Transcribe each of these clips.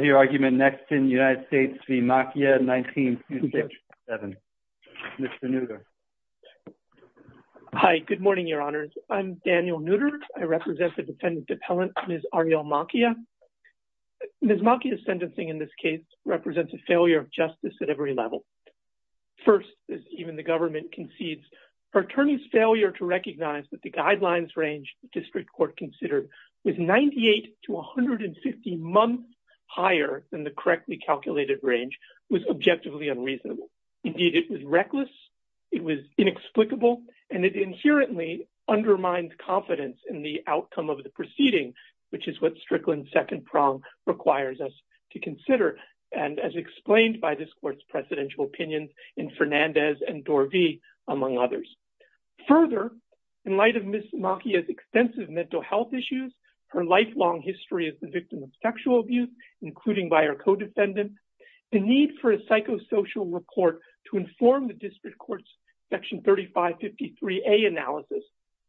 1967. Daniel Nutter. Hi, good morning, your honors. I'm Daniel Nutter. I represent the defendant appellant, Ms. Ariel Machia. Ms. Machia's sentencing in this case represents a failure of justice at every level. First, as even the government concedes, her attorney's failure to recognize that the guidelines range the district court considered was 98 to 150 months higher than the correctly calculated range was objectively unreasonable. Indeed, it was reckless, it was inexplicable, and it inherently undermines confidence in the outcome of the proceeding, which is what Strickland's second prong requires us to consider, and as explained by this court's presidential opinions in Fernandez and Dorvey, among others. Further, in light of Ms. Machia's extensive mental health issues, her lifelong history as the victim of sexual abuse, including by her co-defendants, the need for a psychosocial report to inform the district court's section 3553A analysis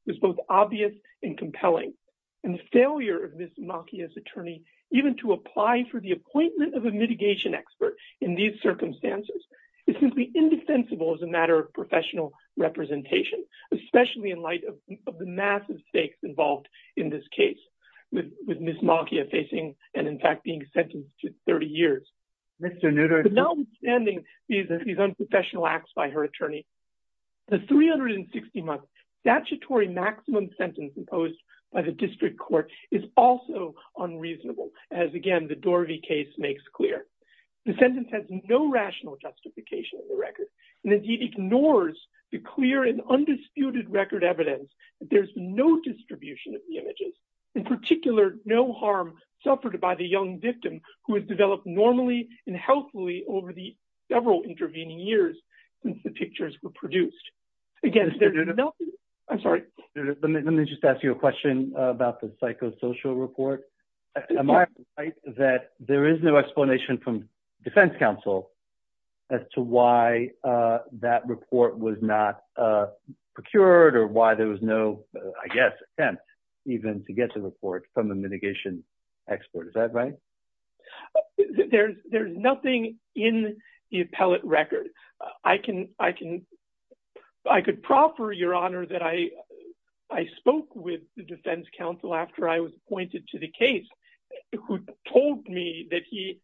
was both obvious and compelling, and the failure of Ms. Machia's attorney even to apply for the appointment of a mitigation expert in these circumstances is simply indefensible as a matter of professional representation, especially in the massive stakes involved in this case, with Ms. Machia facing and in fact being sentenced to 30 years. Notwithstanding these unprofessional acts by her attorney, the 360-month statutory maximum sentence imposed by the district court is also unreasonable, as again the Dorvey case makes clear. The sentence has no rational justification in the record, and it ignores the clear and there's no distribution of the images. In particular, no harm suffered by the young victim who has developed normally and healthfully over the several intervening years since the pictures were produced. Again, I'm sorry. Let me just ask you a question about the psychosocial report. Am I right that there is no explanation from defense counsel as to why that report was not procured or why there was no, I guess, attempt even to get the report from the mitigation expert? Is that right? There's nothing in the appellate record. I could proffer, Your Honor, that I spoke with the defense counsel after I was appointed to the case who told me that he,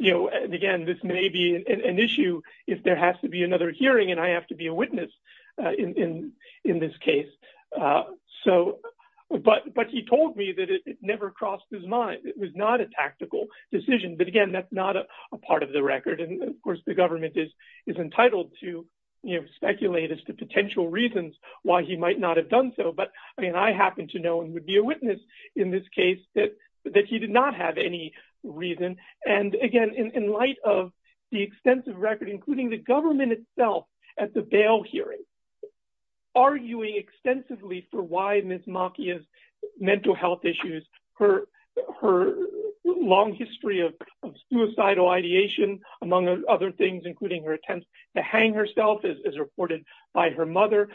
again, this may be an issue if there has to be another hearing and I have to be a witness in this case. But he told me that it never crossed his mind. It was not a tactical decision. But again, that's not a part of the record. And of course, the government is entitled to speculate as to potential reasons why he might not have done so. But I mean, I happen to know and would be a witness in this case that he did not have any reason. And again, in light of the extensive record, including the government itself at the bail hearing, arguing extensively for why Ms. Macchia's mental health issues, her long history of suicidal ideation, among other things, including her attempts to hang herself as reported by her mother,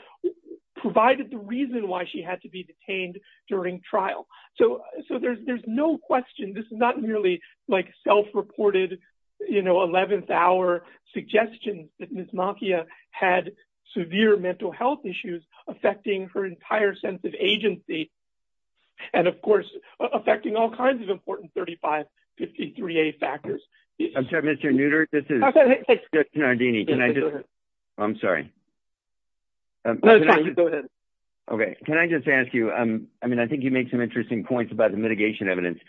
provided the reason why she had to be detained during trial. So there's no question. This is not merely like self-reported, you know, 11th hour suggestions that Ms. Macchia had severe mental health issues affecting her entire sense of agency. And of course, affecting all kinds of important 3553A factors. I'm sorry, Mr. Nutter. This is I'm sorry. Okay, can I just ask you, um, I mean, I think you make some interesting points about the mitigation evidence.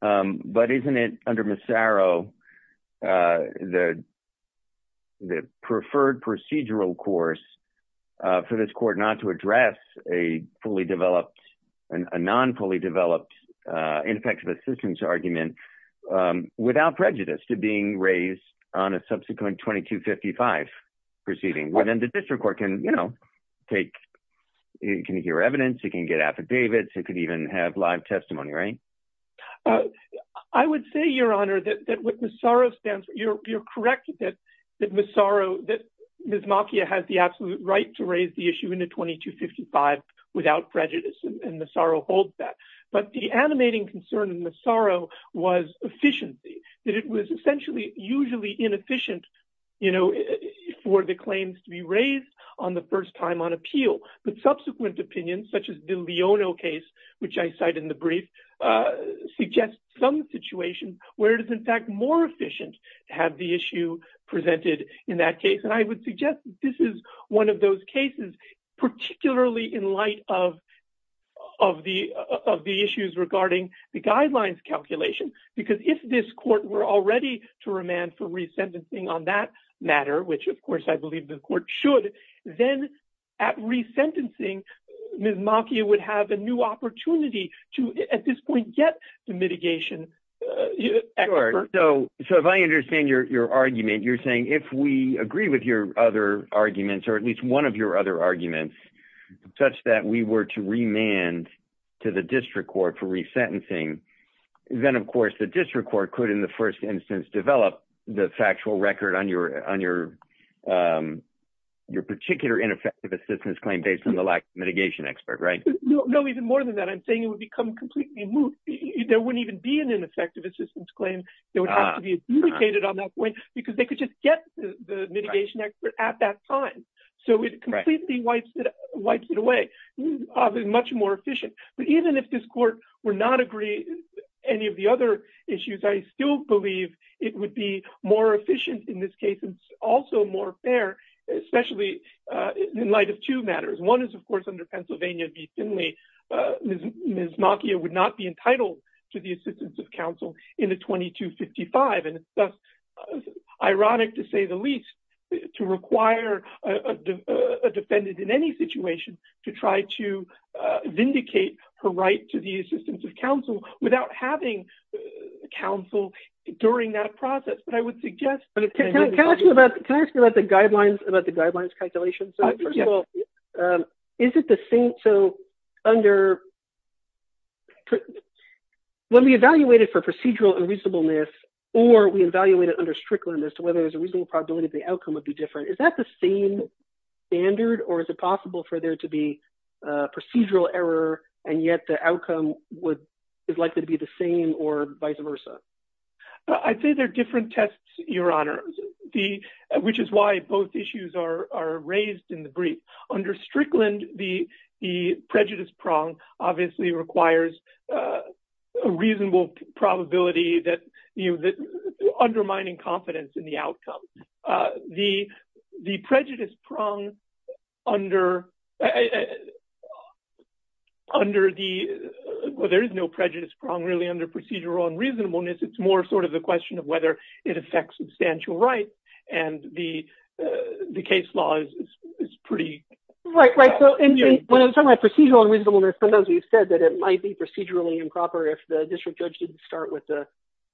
But isn't it under Massaro, the preferred procedural course for this court not to address a fully developed, a non-fully developed, ineffective assistance argument without prejudice to being raised on a subsequent 2255 proceeding? Well, then the district court can, you know, take, can hear evidence, it can get affidavits, it could even have live testimony, right? I would say, Your Honor, that with Massaro's stance, you're correct that Ms. Macchia has the absolute right to raise the issue in a 2255 without prejudice, and Massaro holds that. But the animating concern in Massaro was efficiency, that it was essentially usually inefficient, you know, for the claims to be raised on the first time on appeal. But subsequent opinions, such as the Leono case, which I cite in the brief, suggest some situations where it is in fact more efficient to have the issue presented in that case. And I would suggest this is one of those cases, particularly in light of, of the, of the issues regarding the guidelines calculation. Because if this court were already to remand for resentencing on that matter, which of course, I believe the court should, then at resentencing, Ms. Macchia would have a new opportunity to, at this point, get the mitigation. So, so if I understand your argument, you're saying if we agree with your other arguments, or at least one of your other arguments, such that we were to remand to the district court for resentencing, then of course, the district court could in the first instance, develop the factual record on your, on your, your particular ineffective assistance claim based on the lack of mitigation expert, right? No, even more than that, I'm saying it would become completely moot. There wouldn't even be an ineffective assistance claim that would have to be adjudicated on that point, because they could just get the mitigation expert at that time. So it completely wipes it, wipes it away, obviously much more efficient. But even if this court were not agree, any of the other issues, I still believe it would be more efficient in this case, and also more fair, especially in light of two matters. One is, of course, under Pennsylvania v. Finley, Ms. Macchia would not be entitled to the assistance of counsel in the 2255. And it's thus, ironic to say the least, to require a defendant in any situation, to try to vindicate her right to the assistance of counsel without having counsel during that process. But I would suggest... Can I ask you about, can I ask you about the guidelines, about the guidelines calculation? So first of all, is it the same, so under, when we evaluate it for procedural unreasonableness, or we evaluate it under strictliness, whether there's a reasonable probability that the outcome would be different, is that the same standard? Or is it possible for there to be procedural error, and yet the outcome would, is likely to be the same or vice versa? I'd say they're different tests, Your Honor. The, which is why both issues are raised in the brief. Under strickland, the prejudice prong obviously requires a reasonable probability that, you know, that undermining confidence in the outcome. The prejudice prong under, under the, well, there is no prejudice prong really under procedural unreasonableness. It's more sort of the question of whether it affects substantial rights. And the, the case law is pretty... Right, right. So when I'm talking about procedural unreasonableness, sometimes we've said that it might be procedurally improper if the district judge didn't start with the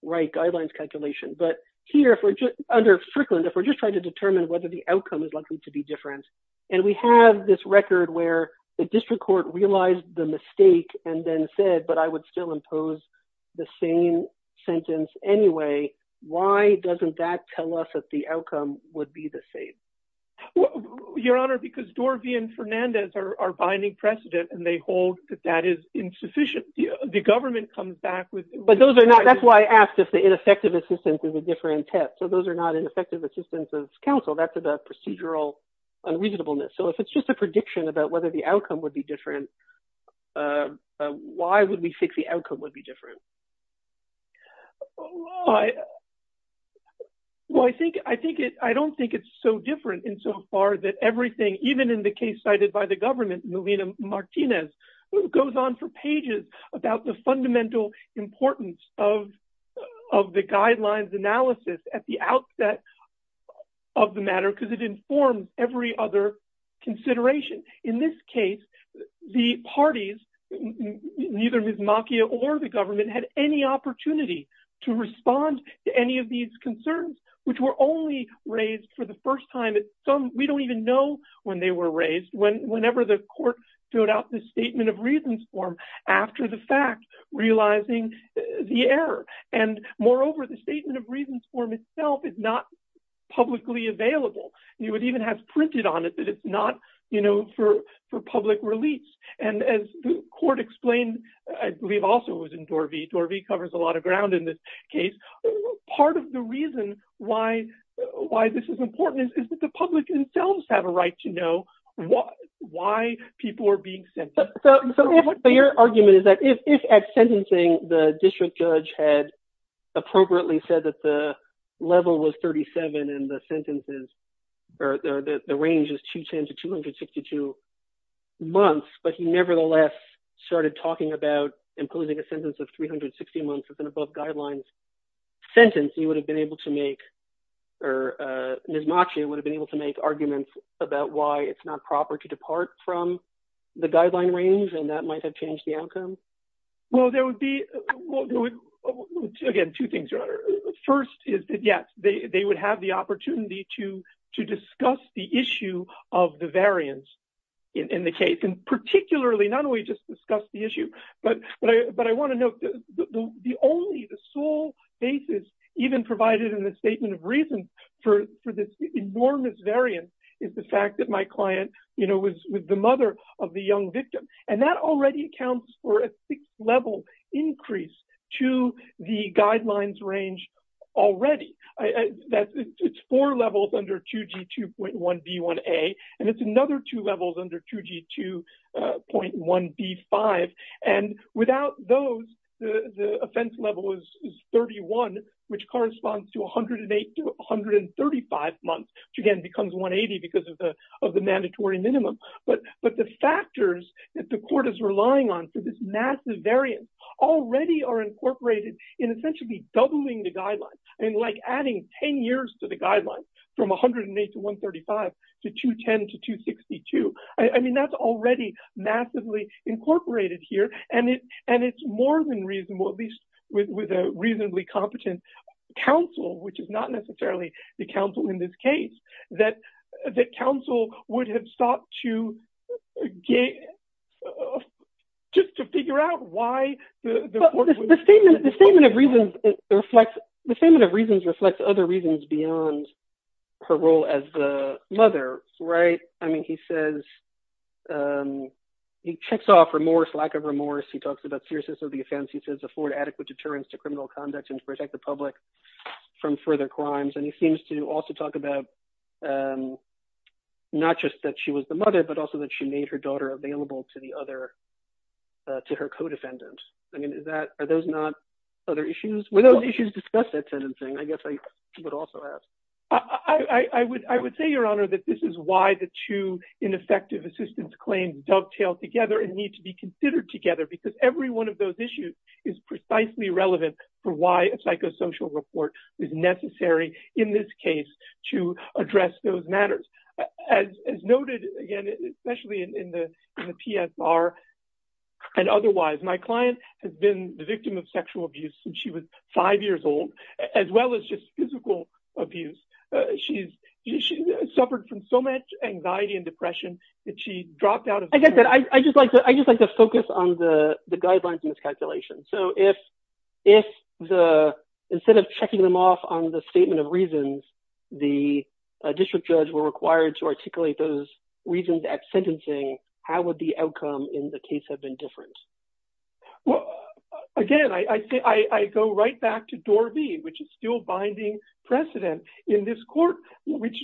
right guidelines calculation. But here, under strickland, if we're just trying to determine whether the outcome is likely to be different, and we have this the same sentence anyway, why doesn't that tell us that the outcome would be the same? Your Honor, because Dorvey and Fernandez are binding precedent, and they hold that that is insufficient. The government comes back with... But those are not, that's why I asked if the ineffective assistance is a different test. So those are not ineffective assistance as counsel, that's about procedural unreasonableness. So if it's just a prediction about whether the outcome would be different, why would we think the outcome would be different? I, well, I think, I think it, I don't think it's so different insofar that everything, even in the case cited by the government, Melina Martinez, goes on for pages about the fundamental importance of, of the guidelines analysis at the outset of the matter, because it informs every other consideration. In this case, the parties, neither Ms. Macchia or the government had any opportunity to respond to any of these concerns, which were only raised for the first time at some, we don't even know when they were raised, whenever the court filled out the Statement of Reasons form, after the fact, realizing the error. And moreover, the Statement of Reasons form itself is not publicly available. You would even have printed on it that it's not, you know, for, for public release. And as the court explained, I believe also it was in Dorvey, Dorvey covers a lot of ground in this case. Part of the reason why, why this is important is that the public themselves have a right to know what, why people are being sentenced. So your argument is that if at sentencing, the district judge had appropriately said that the level was 37 and the sentences, or the range is 210 to 262 months, but he nevertheless started talking about imposing a sentence of 360 months as an above guidelines sentence, he would have been able to make, or Ms. Macchia would have been able to make arguments about why it's not proper to depart from the guideline range. And that might have changed the outcome. Well, there would be, again, two things, Your Honor. First is that, yes, they would have the opportunity to, to discuss the issue of the variance in the case. And particularly, not only just discuss the issue, but, but I want to note that the only, the sole basis even provided in the statement of reason for, for this enormous variance is the fact that my client, you know, was with the mother of the young victim. And that already accounts for a six level increase to the guidelines range already. It's four levels under 2G2.1B1A. And it's to 108 to 135 months, which again becomes 180 because of the, of the mandatory minimum. But, but the factors that the court is relying on for this massive variance already are incorporated in essentially doubling the guidelines. I mean, like adding 10 years to the guidelines from 108 to 135 to 210 to 262. I mean, that's already massively incorporated here. And it, and it's more than reasonable, at least with, with a reasonably competent counsel, which is not necessarily the counsel in this case, that, that counsel would have sought to get, just to figure out why the court would- The statement of reasons reflects other reasons beyond her role as the mother, right? I mean, he says, he checks off remorse, lack of remorse. He talks about seriousness of the offense. He says, afford adequate deterrence to criminal conduct and to protect the public from further crimes. And he seems to also talk about, not just that she was the mother, but also that she made her daughter available to the other, to her co-defendant. I guess I would also ask. I would, I would say, Your Honor, that this is why the two ineffective assistance claims dovetail together and need to be considered together, because every one of those issues is precisely relevant for why a psychosocial report is necessary in this case to address those matters. As noted, again, as well as just physical abuse. She's, she suffered from so much anxiety and depression that she dropped out of- I get that. I just like to, I just like to focus on the, the guidelines in this calculation. So if, if the, instead of checking them off on the statement of reasons, the district judge were required to articulate those reasons at sentencing, how would the outcome in the case have been different? Well, again, I say, I go right back to door B, which is still binding precedent in this court, which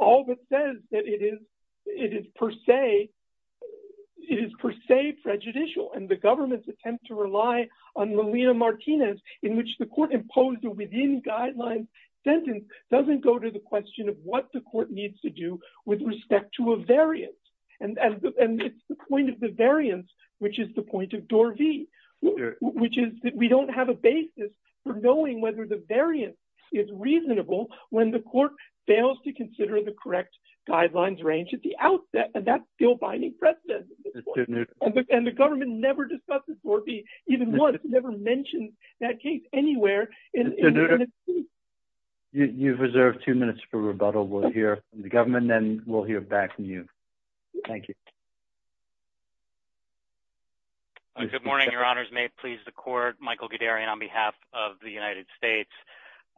all of it says that it is, it is per se, it is per se prejudicial. And the government's attempt to rely on Melina Martinez, in which the court imposed a within guidelines sentence, doesn't go to the point of door B, which is that we don't have a basis for knowing whether the variance is reasonable when the court fails to consider the correct guidelines range at the outset. And that's still binding precedent. And the government never discusses door B, even once, never mentioned that case anywhere. You've reserved two minutes for rebuttal. We'll hear from the government, then we'll hear back from you. Thank you. Good morning, Your Honors. May it please the court, Michael Guderian on behalf of the United States.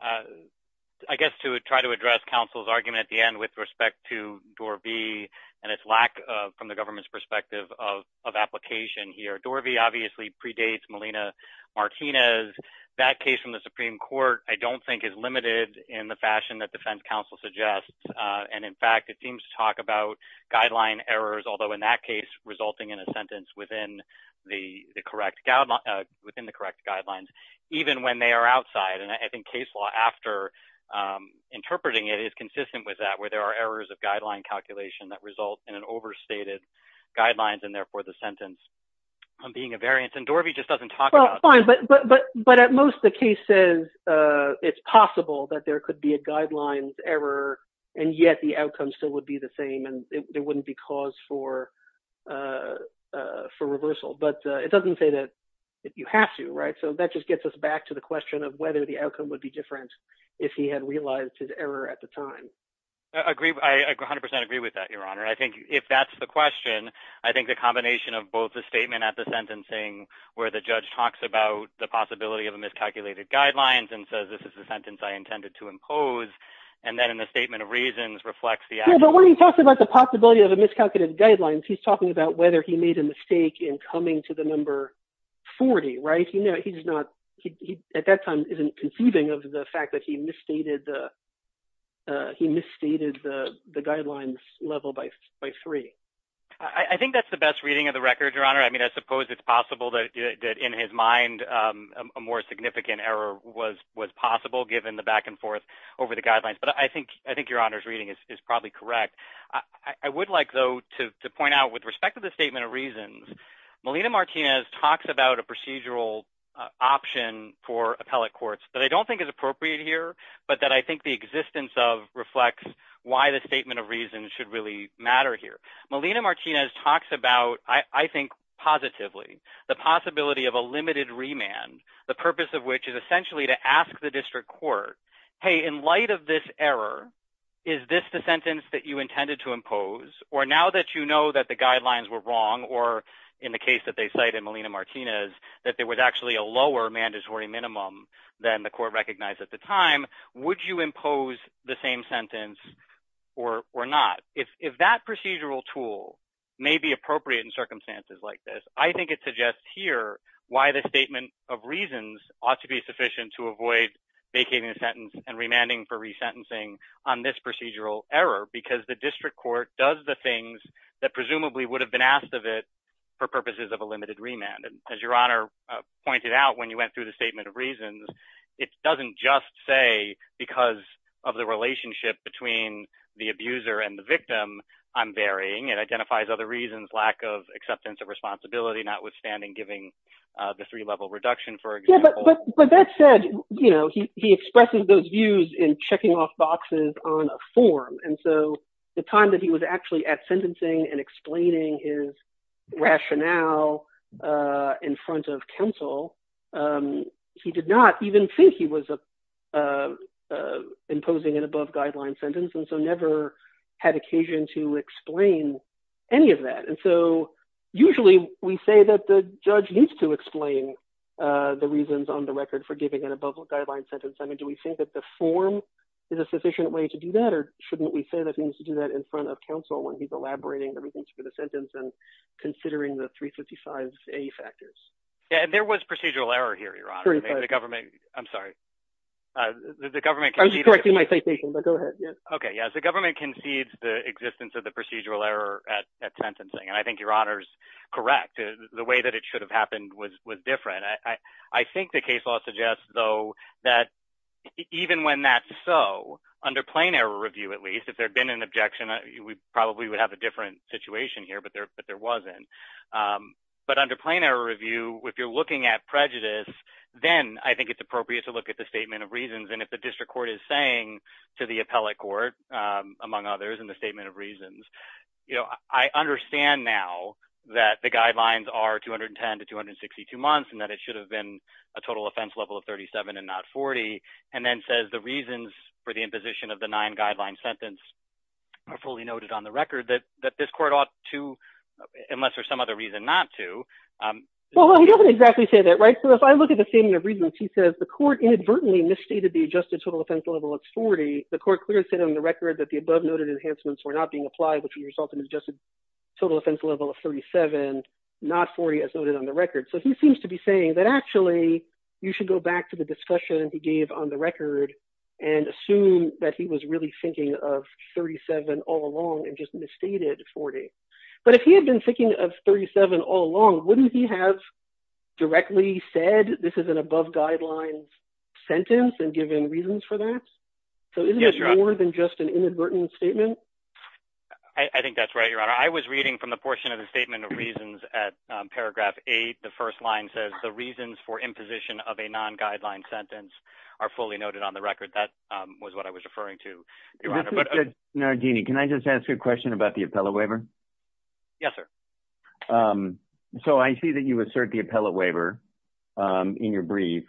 I guess to try to address counsel's argument at the end with respect to door B, and its lack of from the government's perspective of, of application here, door B obviously predates Melina Martinez, that case from the Supreme Court, I don't think is limited in the fashion that defense counsel suggests. And in fact, it seems to talk about guideline errors, although in that case, resulting in a sentence within the correct, within the correct guidelines, even when they are outside. And I think case law after interpreting it is consistent with that, where there are errors of guideline calculation that result in an overstated guidelines, and therefore the sentence on being a variance and door B just doesn't talk about. But, but, but, but at most the case says, it's possible that there could be a guidelines error, and yet the outcome still would be the same, and it wouldn't be cause for, for reversal. But it doesn't say that you have to, right? So that just gets us back to the question of whether the outcome would be different, if he had realized his error at the time. I agree. I 100% agree with that, Your Honor. I think if that's the question, I think the combination of both the statement at the sentencing, where the judge talks about the possibility of a miscalculated guidelines and says, this is the sentence I intended to impose. And then in the statement of reasons reflects the outcome. But when he talks about the possibility of a miscalculated guidelines, he's talking about whether he made a mistake in coming to the number 40, right? You know, he's not, he, at that time, isn't conceiving of the fact that he misstated the, he misstated the, the guidelines level by, by three. I think that's the best reading of the record, Your Honor. I mean, I suppose it's possible that in his mind, a more significant error was, was possible given the back and forth over the guidelines. But I think, I think Your Honor's reading is probably correct. I would like though, to point out with respect to the procedural option for appellate courts that I don't think is appropriate here, but that I think the existence of reflects why the statement of reasons should really matter here. Melina Martinez talks about, I think positively, the possibility of a limited remand, the purpose of which is essentially to ask the district court, hey, in light of this error, is this the sentence that you intended to impose? Or now that you know that the guidelines were wrong, or in the case that they cite in Melina Martinez, that there was actually a lower mandatory minimum than the court recognized at the time, would you impose the same sentence or, or not? If, if that procedural tool may be appropriate in circumstances like this, I think it suggests here why the statement of reasons ought to be sufficient to avoid vacating the sentence and remanding for resentencing on this procedural error, because the district court does the things that presumably would have been asked of it, for purposes of a limited remand. And as Your Honor pointed out, when you went through the statement of reasons, it doesn't just say, because of the relationship between the abuser and the victim, I'm varying, it identifies other reasons, lack of acceptance of responsibility, notwithstanding giving the three level reduction, for example. But, but that said, you know, he expresses those views in checking off boxes on a form. And so the time that he was actually at sentencing and explaining his rationale in front of counsel, he did not even think he was imposing an above guideline sentence, and so never had occasion to explain any of that. And so, usually, we say that the judge needs to be on the record for giving an above guideline sentence. I mean, do we think that the form is a sufficient way to do that? Or shouldn't we say that we need to do that in front of counsel when he's elaborating the reasons for the sentence and considering the 355A factors? Yeah, there was procedural error here, Your Honor. The government, I'm sorry. I was correcting my citation, but go ahead. Okay, yes, the government concedes the existence of the procedural error at sentencing. And I think Your Honor's correct. The way that it should have happened was different. I think the case law suggests, though, that even when that's so, under plain error review, at least, if there had been an objection, we probably would have a different situation here, but there wasn't. But under plain error review, if you're looking at prejudice, then I think it's appropriate to look at the statement of reasons. And if the district court is saying to the appellate court, among others, in the statement of reasons, I understand now that the guidelines are 210 to 262 months and that it should have been a total offense level of 37 and not 40, and then says the reasons for the imposition of the nine-guideline sentence are fully noted on the record that this court ought to, unless there's some other reason not to. Well, he doesn't exactly say that, right? So if I look at the statement of reasons, he says the court inadvertently misstated the adjusted total offense level of 40. The court clearly said on the record that the above-noted enhancements were not being applied, which would result in an adjusted total offense level of 37, not 40, as noted on the record. So he seems to be saying that actually you should go back to the discussion he gave on the record and assume that he was really thinking of 37 all along and just misstated 40. But if he had been thinking of 37 all along, wouldn't he have directly said this is an above-guidelines sentence and given reasons for that? So isn't it more than just an inadvertent statement? I think that's right, Your Honor. I was reading from the portion of the statement of reasons at paragraph 8. The first line says the reasons for imposition of a non-guideline sentence are fully noted on the record. That was what I was referring to, Your Honor. Mr. Nardini, can I just ask a question about the appellate waiver? Yes, sir. So I see that you assert the appellate waiver in your brief.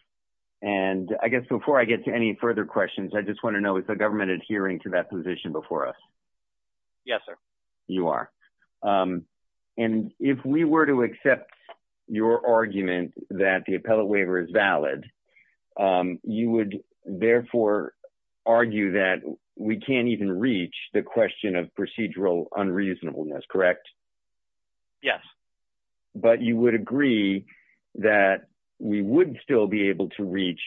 And I guess before I get to any further questions, I just want to know, is the government adhering to that position before us? Yes, sir. You are. And if we were to accept your argument that the appellate waiver is valid, you would therefore argue that we can't even reach the question of procedural unreasonableness, correct? Yes. But you would agree that we would still be able to reach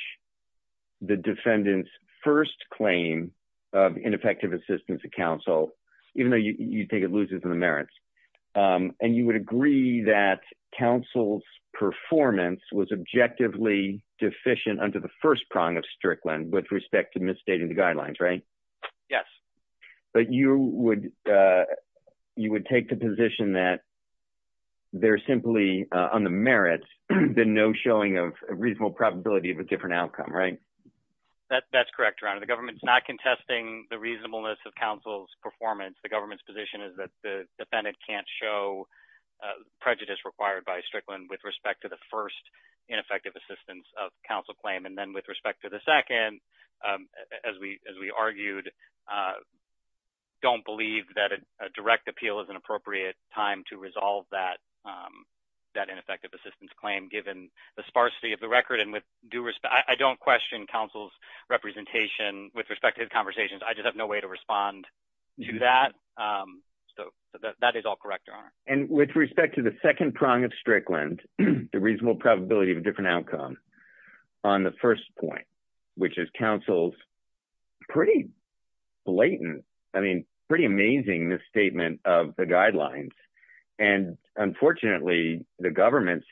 the defendant's first claim of ineffective assistance to counsel, even though you think it loses the merits. And you would agree that counsel's performance was objectively deficient under the first prong of Strickland with respect to misstating the guidelines, right? Yes. But you would take the position that they're simply on the merits, then no showing of reasonable probability of a different outcome, right? That's correct, Your Honor. The government's not contesting the reasonableness of counsel's performance. The government's position is that the defendant can't show prejudice required by Strickland with respect to the first ineffective assistance of counsel claim. And then with respect to the second, as we argued, don't believe that a direct appeal is an appropriate time to resolve that ineffective assistance claim, given the sparsity of the record. I don't question counsel's representation with respect to his conversations. I just have no way to respond to that. So that is all correct, Your Honor. And with respect to the second prong of Strickland, the reasonable probability of a different outcome on the first point, which is counsel's pretty blatant, I mean, pretty amazing, this statement of the guidelines. And unfortunately, the government's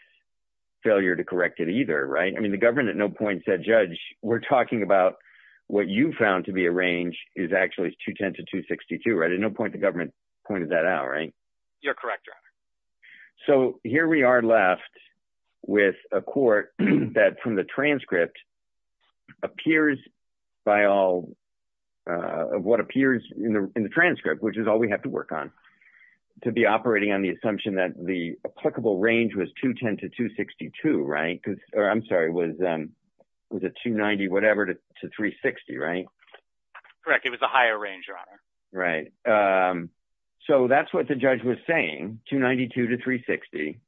failure to correct it either, right? I mean, the government at no point said, Judge, we're talking about what you found to be a range is actually 210 to 262, right? At no point the government pointed that out, right? Correct, Your Honor. So here we are left with a court that from the transcript appears by all of what appears in the transcript, which is all we have to work on, to be operating on the assumption that the applicable range was 210 to 262, right? Or I'm sorry, was it 290 whatever to 360, right? Correct. It was a higher range, Your Honor. Right. So that's what the judge was saying. 292 to 360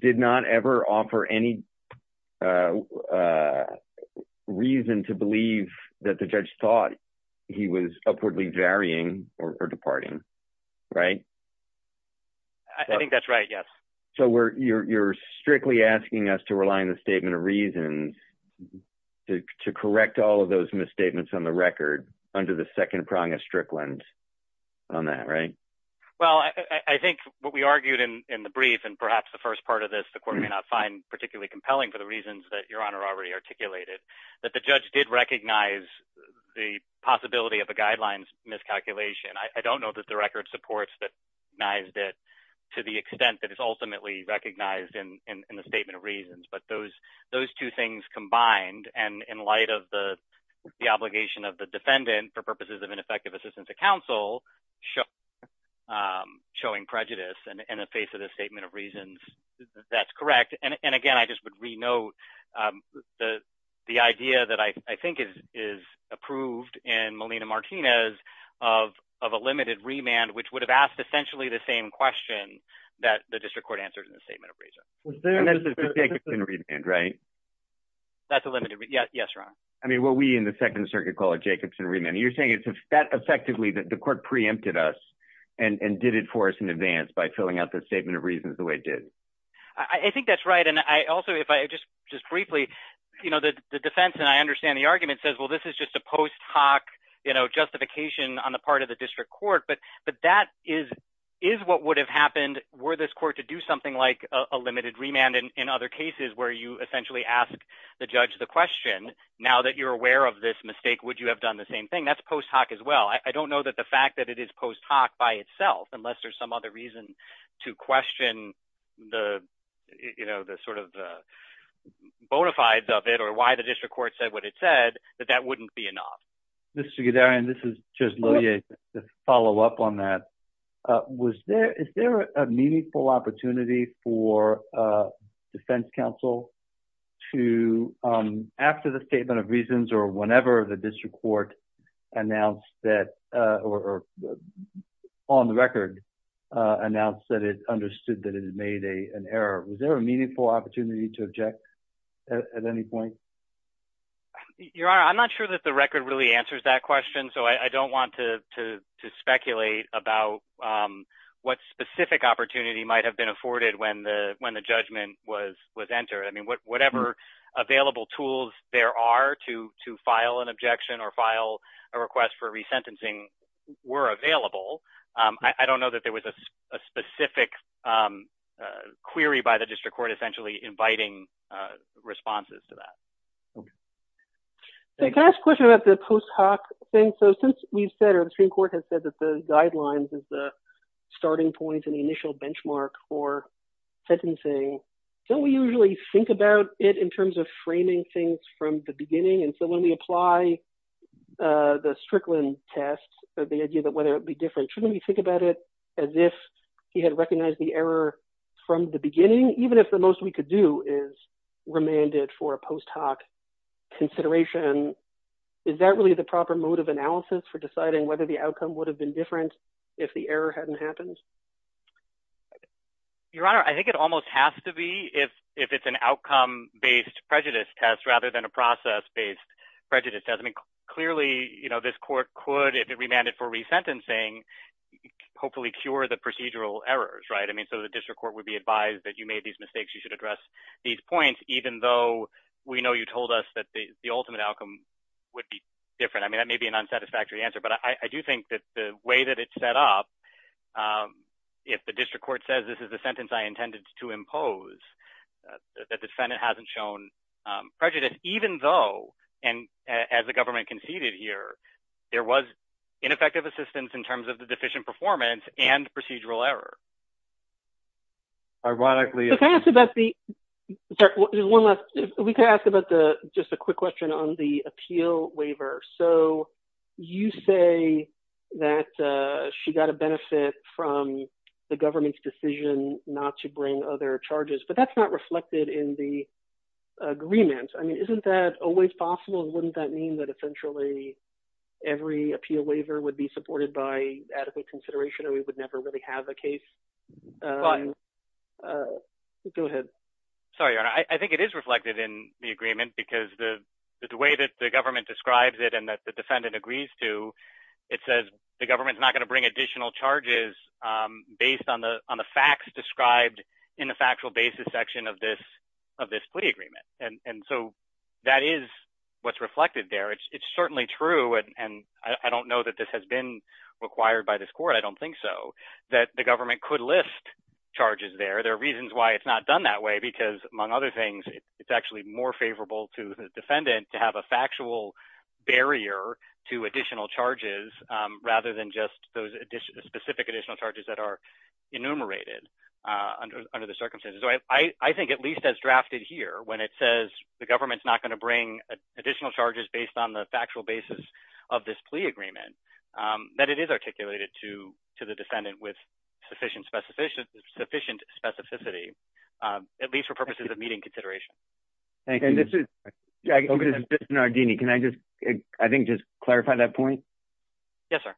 did not ever offer any reason to believe that the judge thought he was upwardly varying or departing, right? I think that's right. Yes. So you're strictly asking us to rely on the statement of reasons to correct all of those misstatements on the record under the second prong of Strickland on that, right? Well, I think what we argued in the brief, and perhaps the first part of this, the court may not find particularly compelling for the reasons that Your Honor already articulated, that the judge did recognize the possibility of a guidelines miscalculation. I don't know that the record supports that he recognized it to the extent that it's ultimately recognized in the statement of reasons. But those two things combined, and in light of the obligation of the defendant for purposes of ineffective assistance to counsel, showing prejudice in the face of the statement of reasons, that's correct. And again, I just would renote the idea that I think is approved in Molina-Martinez of a limited remand, which would have asked essentially the same question that the district court answered in the statement of reasons. And that's a Jacobson remand, right? That's a limited remand. Yes, Your Honor. I mean, what we in the Second Circuit call a Jacobson remand. You're saying it's effectively that the court preempted us and did it for us in advance by filling out the statement of reasons the way it did? I think that's right. And also, if I just briefly, the defense, and I understand the argument, says, well, this is just a post hoc justification on the part of the district court. But that is what would have happened were this court to do something like a limited remand in other cases where you essentially ask the judge the question, now that you're aware of this mistake, would you have done the same thing? I mean, that's post hoc as well. I don't know that the fact that it is post hoc by itself, unless there's some other reason to question the, you know, the sort of bona fides of it or why the district court said what it said, that that wouldn't be enough. Mr. Guderian, this is just to follow up on that. Was there, is there a meaningful opportunity for defense counsel to, after the statement of reasons or whenever the district court announced that, or on the record announced that it understood that it had made an error, was there a meaningful opportunity to object at any point? Your Honor, I'm not sure that the record really answers that question. So I don't want to speculate about what specific opportunity might have been afforded when the judgment was entered. I mean, whatever available tools there are to file an objection or file a request for resentencing were available. I don't know that there was a specific query by the district court essentially inviting responses to that. Can I ask a question about the post hoc thing? So since we've said, or the Supreme Court has said that the guidelines is the starting point and the initial benchmark for sentencing, don't we usually think about it in terms of framing things from the beginning? And so when we apply the Strickland test, the idea that whether it would be different, shouldn't we think about it as if he had recognized the error from the beginning, even if the most we could do is remand it for a post hoc consideration? Is that really the proper mode of analysis for deciding whether the outcome would have been different if the error hadn't happened? Your Honor, I think it almost has to be if it's an outcome-based prejudice test rather than a process-based prejudice test. I mean, clearly this court could, if it remanded for resentencing, hopefully cure the procedural errors, right? I mean, so the district court would be advised that you made these mistakes, you should address these points, even though we know you told us that the ultimate outcome would be different. I mean, that may be an unsatisfactory answer, but I do think that the way that it's set up, if the district court says this is the sentence I intended to impose, that the defendant hasn't shown prejudice, even though, and as the government conceded here, there was ineffective assistance in terms of the deficient performance and procedural error. Ironically... If I could ask about the, sorry, there's one last, if we could ask about the, just a quick question on the appeal waiver. So you say that she got a benefit from the government's decision not to bring other charges, but that's not reflected in the agreement. I mean, isn't that always possible? Wouldn't that mean that essentially every appeal waiver would be supported by adequate consideration or we would never really have a case? Go ahead. Sorry, I think it is reflected in the agreement because the way that the government describes it and that the defendant agrees to, it says the government's not going to bring additional charges based on the facts described in the factual basis section of this plea agreement. And so that is what's reflected there. It's certainly true, and I don't know that this has been required by this court, I don't think so, that the government could list charges there. There are reasons why it's not done that way because, among other things, it's actually more favorable to the defendant to have a factual barrier to additional charges rather than just those specific additional charges that are enumerated under the circumstances. So I think, at least as drafted here, when it says the government's not going to bring additional charges based on the factual basis of this plea agreement, that it is articulated to the defendant with sufficient specificity, at least for purposes of meeting consideration. Thank you. And this is Biston Ardini. Can I just, I think, just clarify that point? Yes, sir.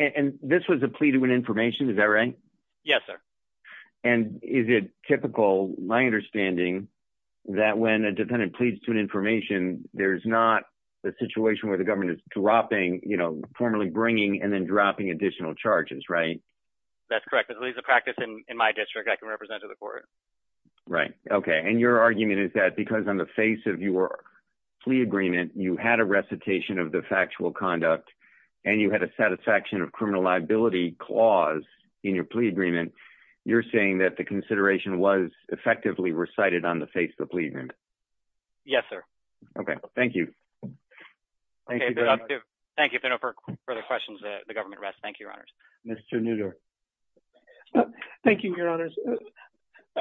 And this was a plea to win information, is that right? Yes, sir. And is it typical, my understanding, that when a defendant pleads to win information, there's not the situation where the government is dropping, you know, formally bringing and then dropping additional charges, right? That's correct. At least the practice in my district I can represent to the court. Right. Okay. And your argument is that because on the face of your plea agreement, you had a recitation of the factual conduct and you had a satisfaction of criminal liability clause in your plea agreement, you're saying that the consideration was effectively recited on the face of the plea agreement? Yes, sir. Okay. Thank you. Thank you. Thank you. If there are no further questions, the government rests. Thank you, Your Honors. Mr. Newdorf. Thank you, Your Honors.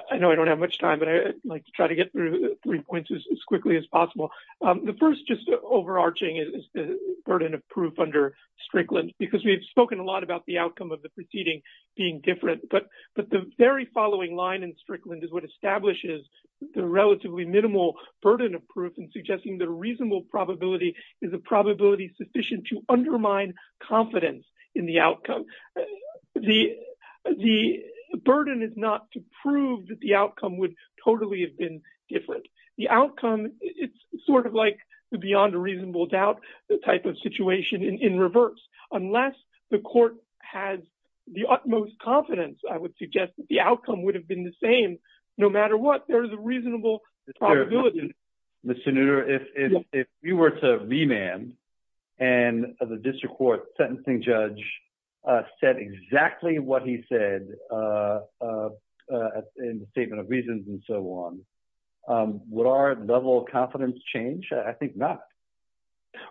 I know I don't have much time, but I'd like to try to get through three points as quickly as possible. The first, just overarching, is the burden of proof under Strickland, because we've spoken a lot about the outcome of the proceeding being different. But the very following line in Strickland is what establishes the relatively minimal burden of proof in suggesting the reasonable probability is a probability sufficient to undermine confidence in the outcome. The burden is not to prove that the outcome would totally have been different. The outcome, it's sort of like the beyond a reasonable doubt type of situation in reverse. Unless the court has the utmost confidence, I would suggest that the outcome would have been the same. No matter what, there is a reasonable probability. Mr. Newdorf, if you were to remand and the district court sentencing judge said exactly what he said in the statement of reasons and so on, would our level of confidence change? I think not.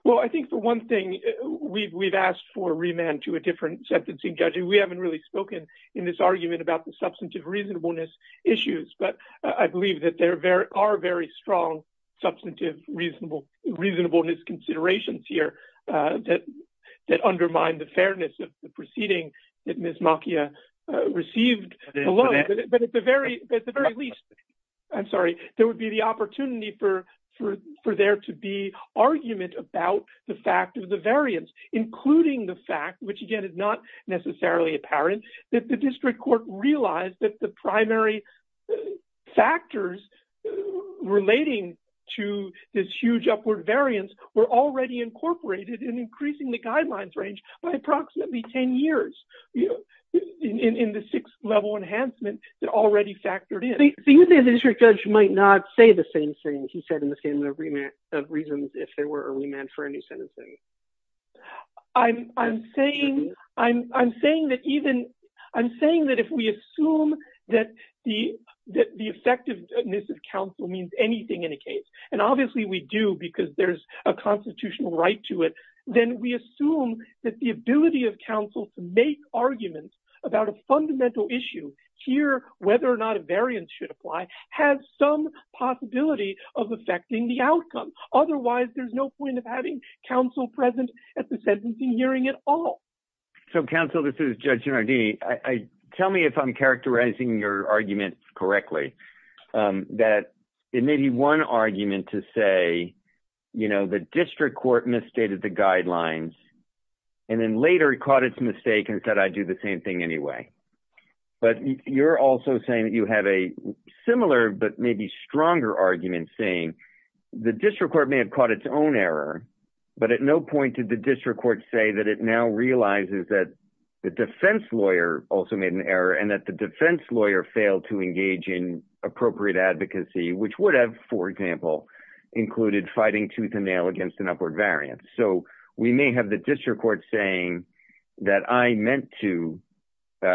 Well, I think the one thing we've asked for remand to a different sentencing judge, and we haven't really spoken in this argument about the substantive reasonableness issues. But I believe that there are very strong substantive reasonableness considerations here that undermine the fairness of the proceeding that Ms. Macchia received. But at the very least, I'm sorry, there would be the opportunity for there to be argument about the fact of the variance, including the fact, which again is not necessarily apparent, that the district court realized that the primary factors relating to this huge upward variance were already incorporated in increasing the guidelines range by approximately 10 years. In the sixth level enhancement, they're already factored in. So you think the district judge might not say the same thing he said in the statement of reasons if there were a remand for a new sentencing? I'm saying that if we assume that the effectiveness of counsel means anything in a case, and obviously we do because there's a constitutional right to it, then we assume that the ability of counsel to make arguments about a fundamental issue here, whether or not a variance should apply, has some possibility of affecting the outcome. Otherwise, there's no point of having counsel present at the sentencing hearing at all. So counsel, this is Judge Gennardini. Tell me if I'm characterizing your arguments correctly, that it may be one argument to say, you know, the district court misstated the guidelines, and then later caught its mistake and said I'd do the same thing anyway. But you're also saying that you have a similar but maybe stronger argument saying the district court may have caught its own error, but at no point did the district court say that it now realizes that the defense lawyer also made an error and that the defense lawyer failed to engage in appropriate advocacy, which would have, for example, included fighting tooth and nail against an upward variance. So we may have the district court saying that I meant to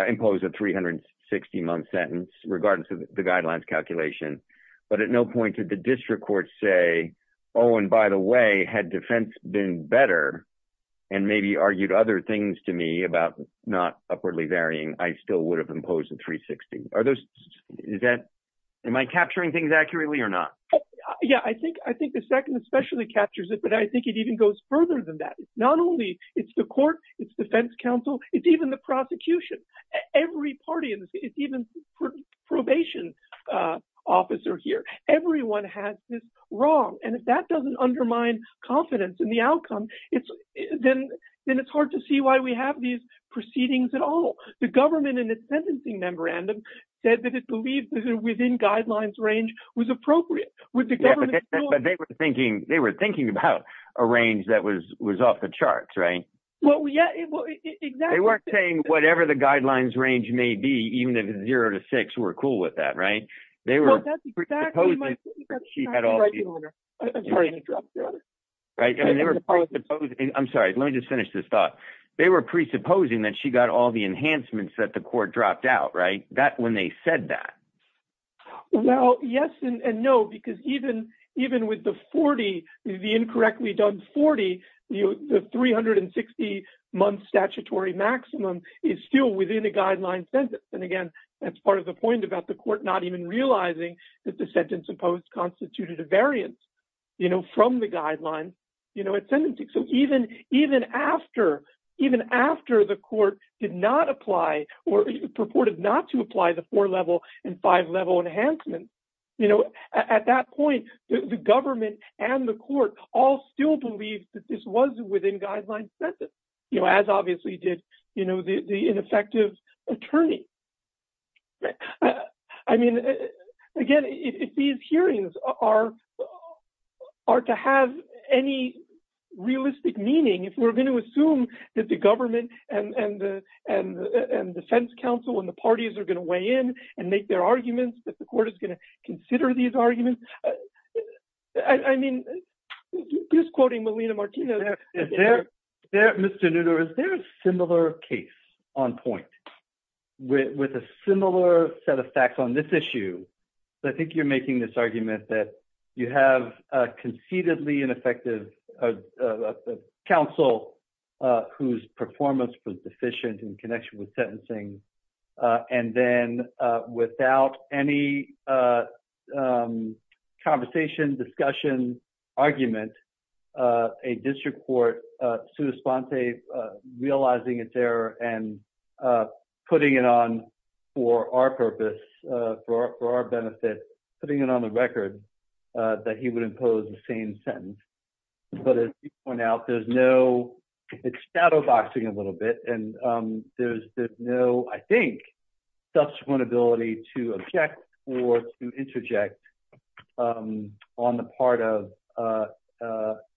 impose a 360-month sentence regarding the guidelines calculation, but at no point did the district court say, oh, and by the way, had defense been better and maybe argued other things to me about not upwardly varying, I still would have imposed a 360. Are those – is that – am I capturing things accurately or not? Yeah, I think the second especially captures it, but I think it even goes further than that. Not only it's the court, it's defense counsel, it's even the prosecution. Every party in the – it's even probation officer here. Everyone has this wrong, and if that doesn't undermine confidence in the outcome, then it's hard to see why we have these proceedings at all. The government in the sentencing memorandum said that it believed that within guidelines range was appropriate. But they were thinking about a range that was off the charts, right? Well, yeah, exactly. They weren't saying whatever the guidelines range may be, even if it's zero to six, we're cool with that, right? They were presupposing that she got all the – I'm sorry. I'm sorry. Let me just finish this thought. They were presupposing that she got all the enhancements that the court dropped out, right, when they said that. Well, yes and no, because even with the 40, the incorrectly done 40, the 360-month statutory maximum is still within a guideline sentence. And again, that's part of the point about the court not even realizing that the sentence imposed constituted a variance. You know, from the guidelines, you know, at sentencing. So even after the court did not apply or purported not to apply the four-level and five-level enhancements, you know, at that point, the government and the court all still believed that this was within guidelines sentence, you know, as obviously did, you know, the ineffective attorney. I mean, again, if these hearings are to have any realistic meaning, if we're going to assume that the government and defense counsel and the parties are going to weigh in and make their arguments, that the court is going to consider these arguments, I mean, just quoting Melina Martino. Mr. Nutter, is there a similar case on point with a similar set of facts on this issue? So I think you're making this argument that you have a conceitedly ineffective counsel whose performance was deficient in connection with sentencing. And then without any conversation, discussion, argument, a district court, sui sponte, realizing its error and putting it on for our purpose, for our benefit, putting it on the record that he would impose the same sentence. But as you point out, there's no shadowboxing a little bit and there's no, I think, subsequent ability to object or to interject on the part of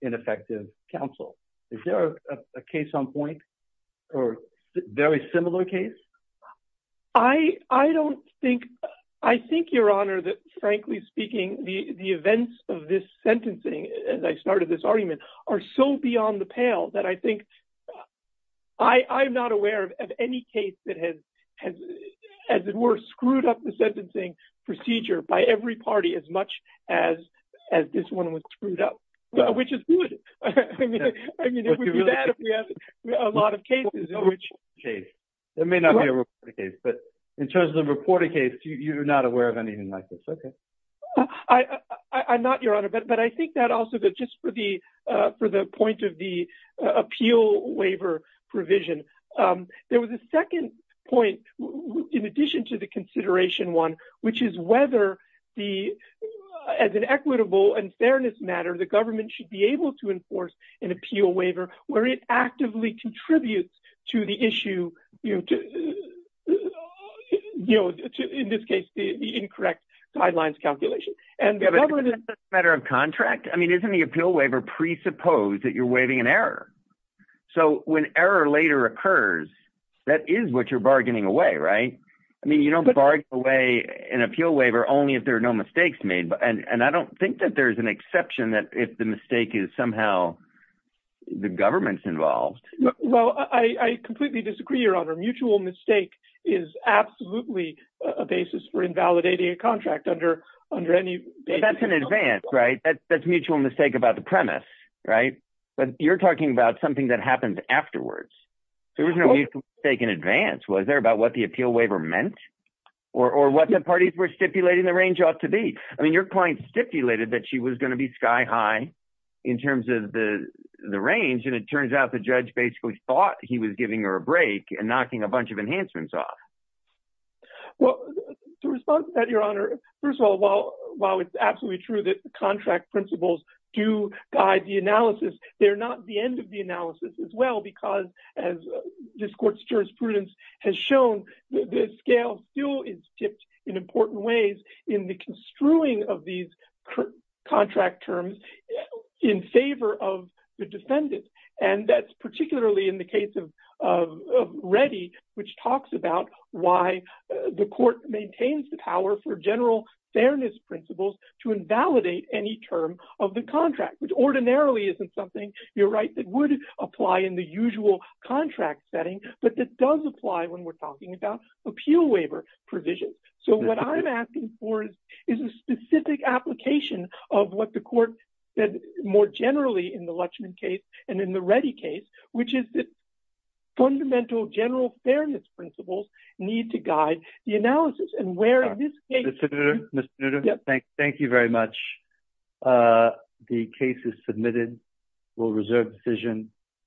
ineffective counsel. Is there a case on point or very similar case? I don't think I think, Your Honor, that, frankly speaking, the events of this sentencing, as I started this argument, are so beyond the pale that I think I'm not aware of any case that has, as it were, screwed up the sentencing procedure by every party as much as as this one was screwed up, which is good. I mean, it would be bad if we had a lot of cases in which case there may not be a case, but in terms of the reported case, you're not aware of anything like this. I'm not, Your Honor, but I think that also that just for the for the point of the appeal waiver provision, there was a second point. In addition to the consideration one, which is whether the as an equitable and fairness matter, the government should be able to enforce an appeal waiver where it actively contributes to the issue, you know, in this case, the incorrect guidelines calculation. And the government is a matter of contract. I mean, isn't the appeal waiver presuppose that you're waiving an error? So when error later occurs, that is what you're bargaining away, right? I mean, you don't bargain away an appeal waiver only if there are no mistakes made. And I don't think that there's an exception that if the mistake is somehow the government's involved. Well, I completely disagree, Your Honor. Mutual mistake is absolutely a basis for invalidating a contract under under any. That's an advance, right? That's mutual mistake about the premise, right? But you're talking about something that happens afterwards. There was no mistake in advance. Was there about what the appeal waiver meant or what the parties were stipulating the range ought to be? I mean, your client stipulated that she was going to be sky high in terms of the range. And it turns out the judge basically thought he was giving her a break and knocking a bunch of enhancements off. Well, to respond to that, Your Honor, first of all, while while it's absolutely true that the contract principles do guide the analysis, they're not the end of the analysis as well, because as this court's jurisprudence has shown, the scale still is tipped in important ways in the construing of these contract terms in favor of the defendant. And that's particularly in the case of Reddy, which talks about why the court maintains the power for general fairness principles to invalidate any term of the contract, which ordinarily isn't something, you're right, that would apply in the usual contract setting. But this does apply when we're talking about appeal waiver provisions. So what I'm asking for is a specific application of what the court said more generally in the Lutchman case and in the Reddy case, which is that fundamental general fairness principles need to guide the analysis. Thank you very much. The case is submitted. We'll reserve decision.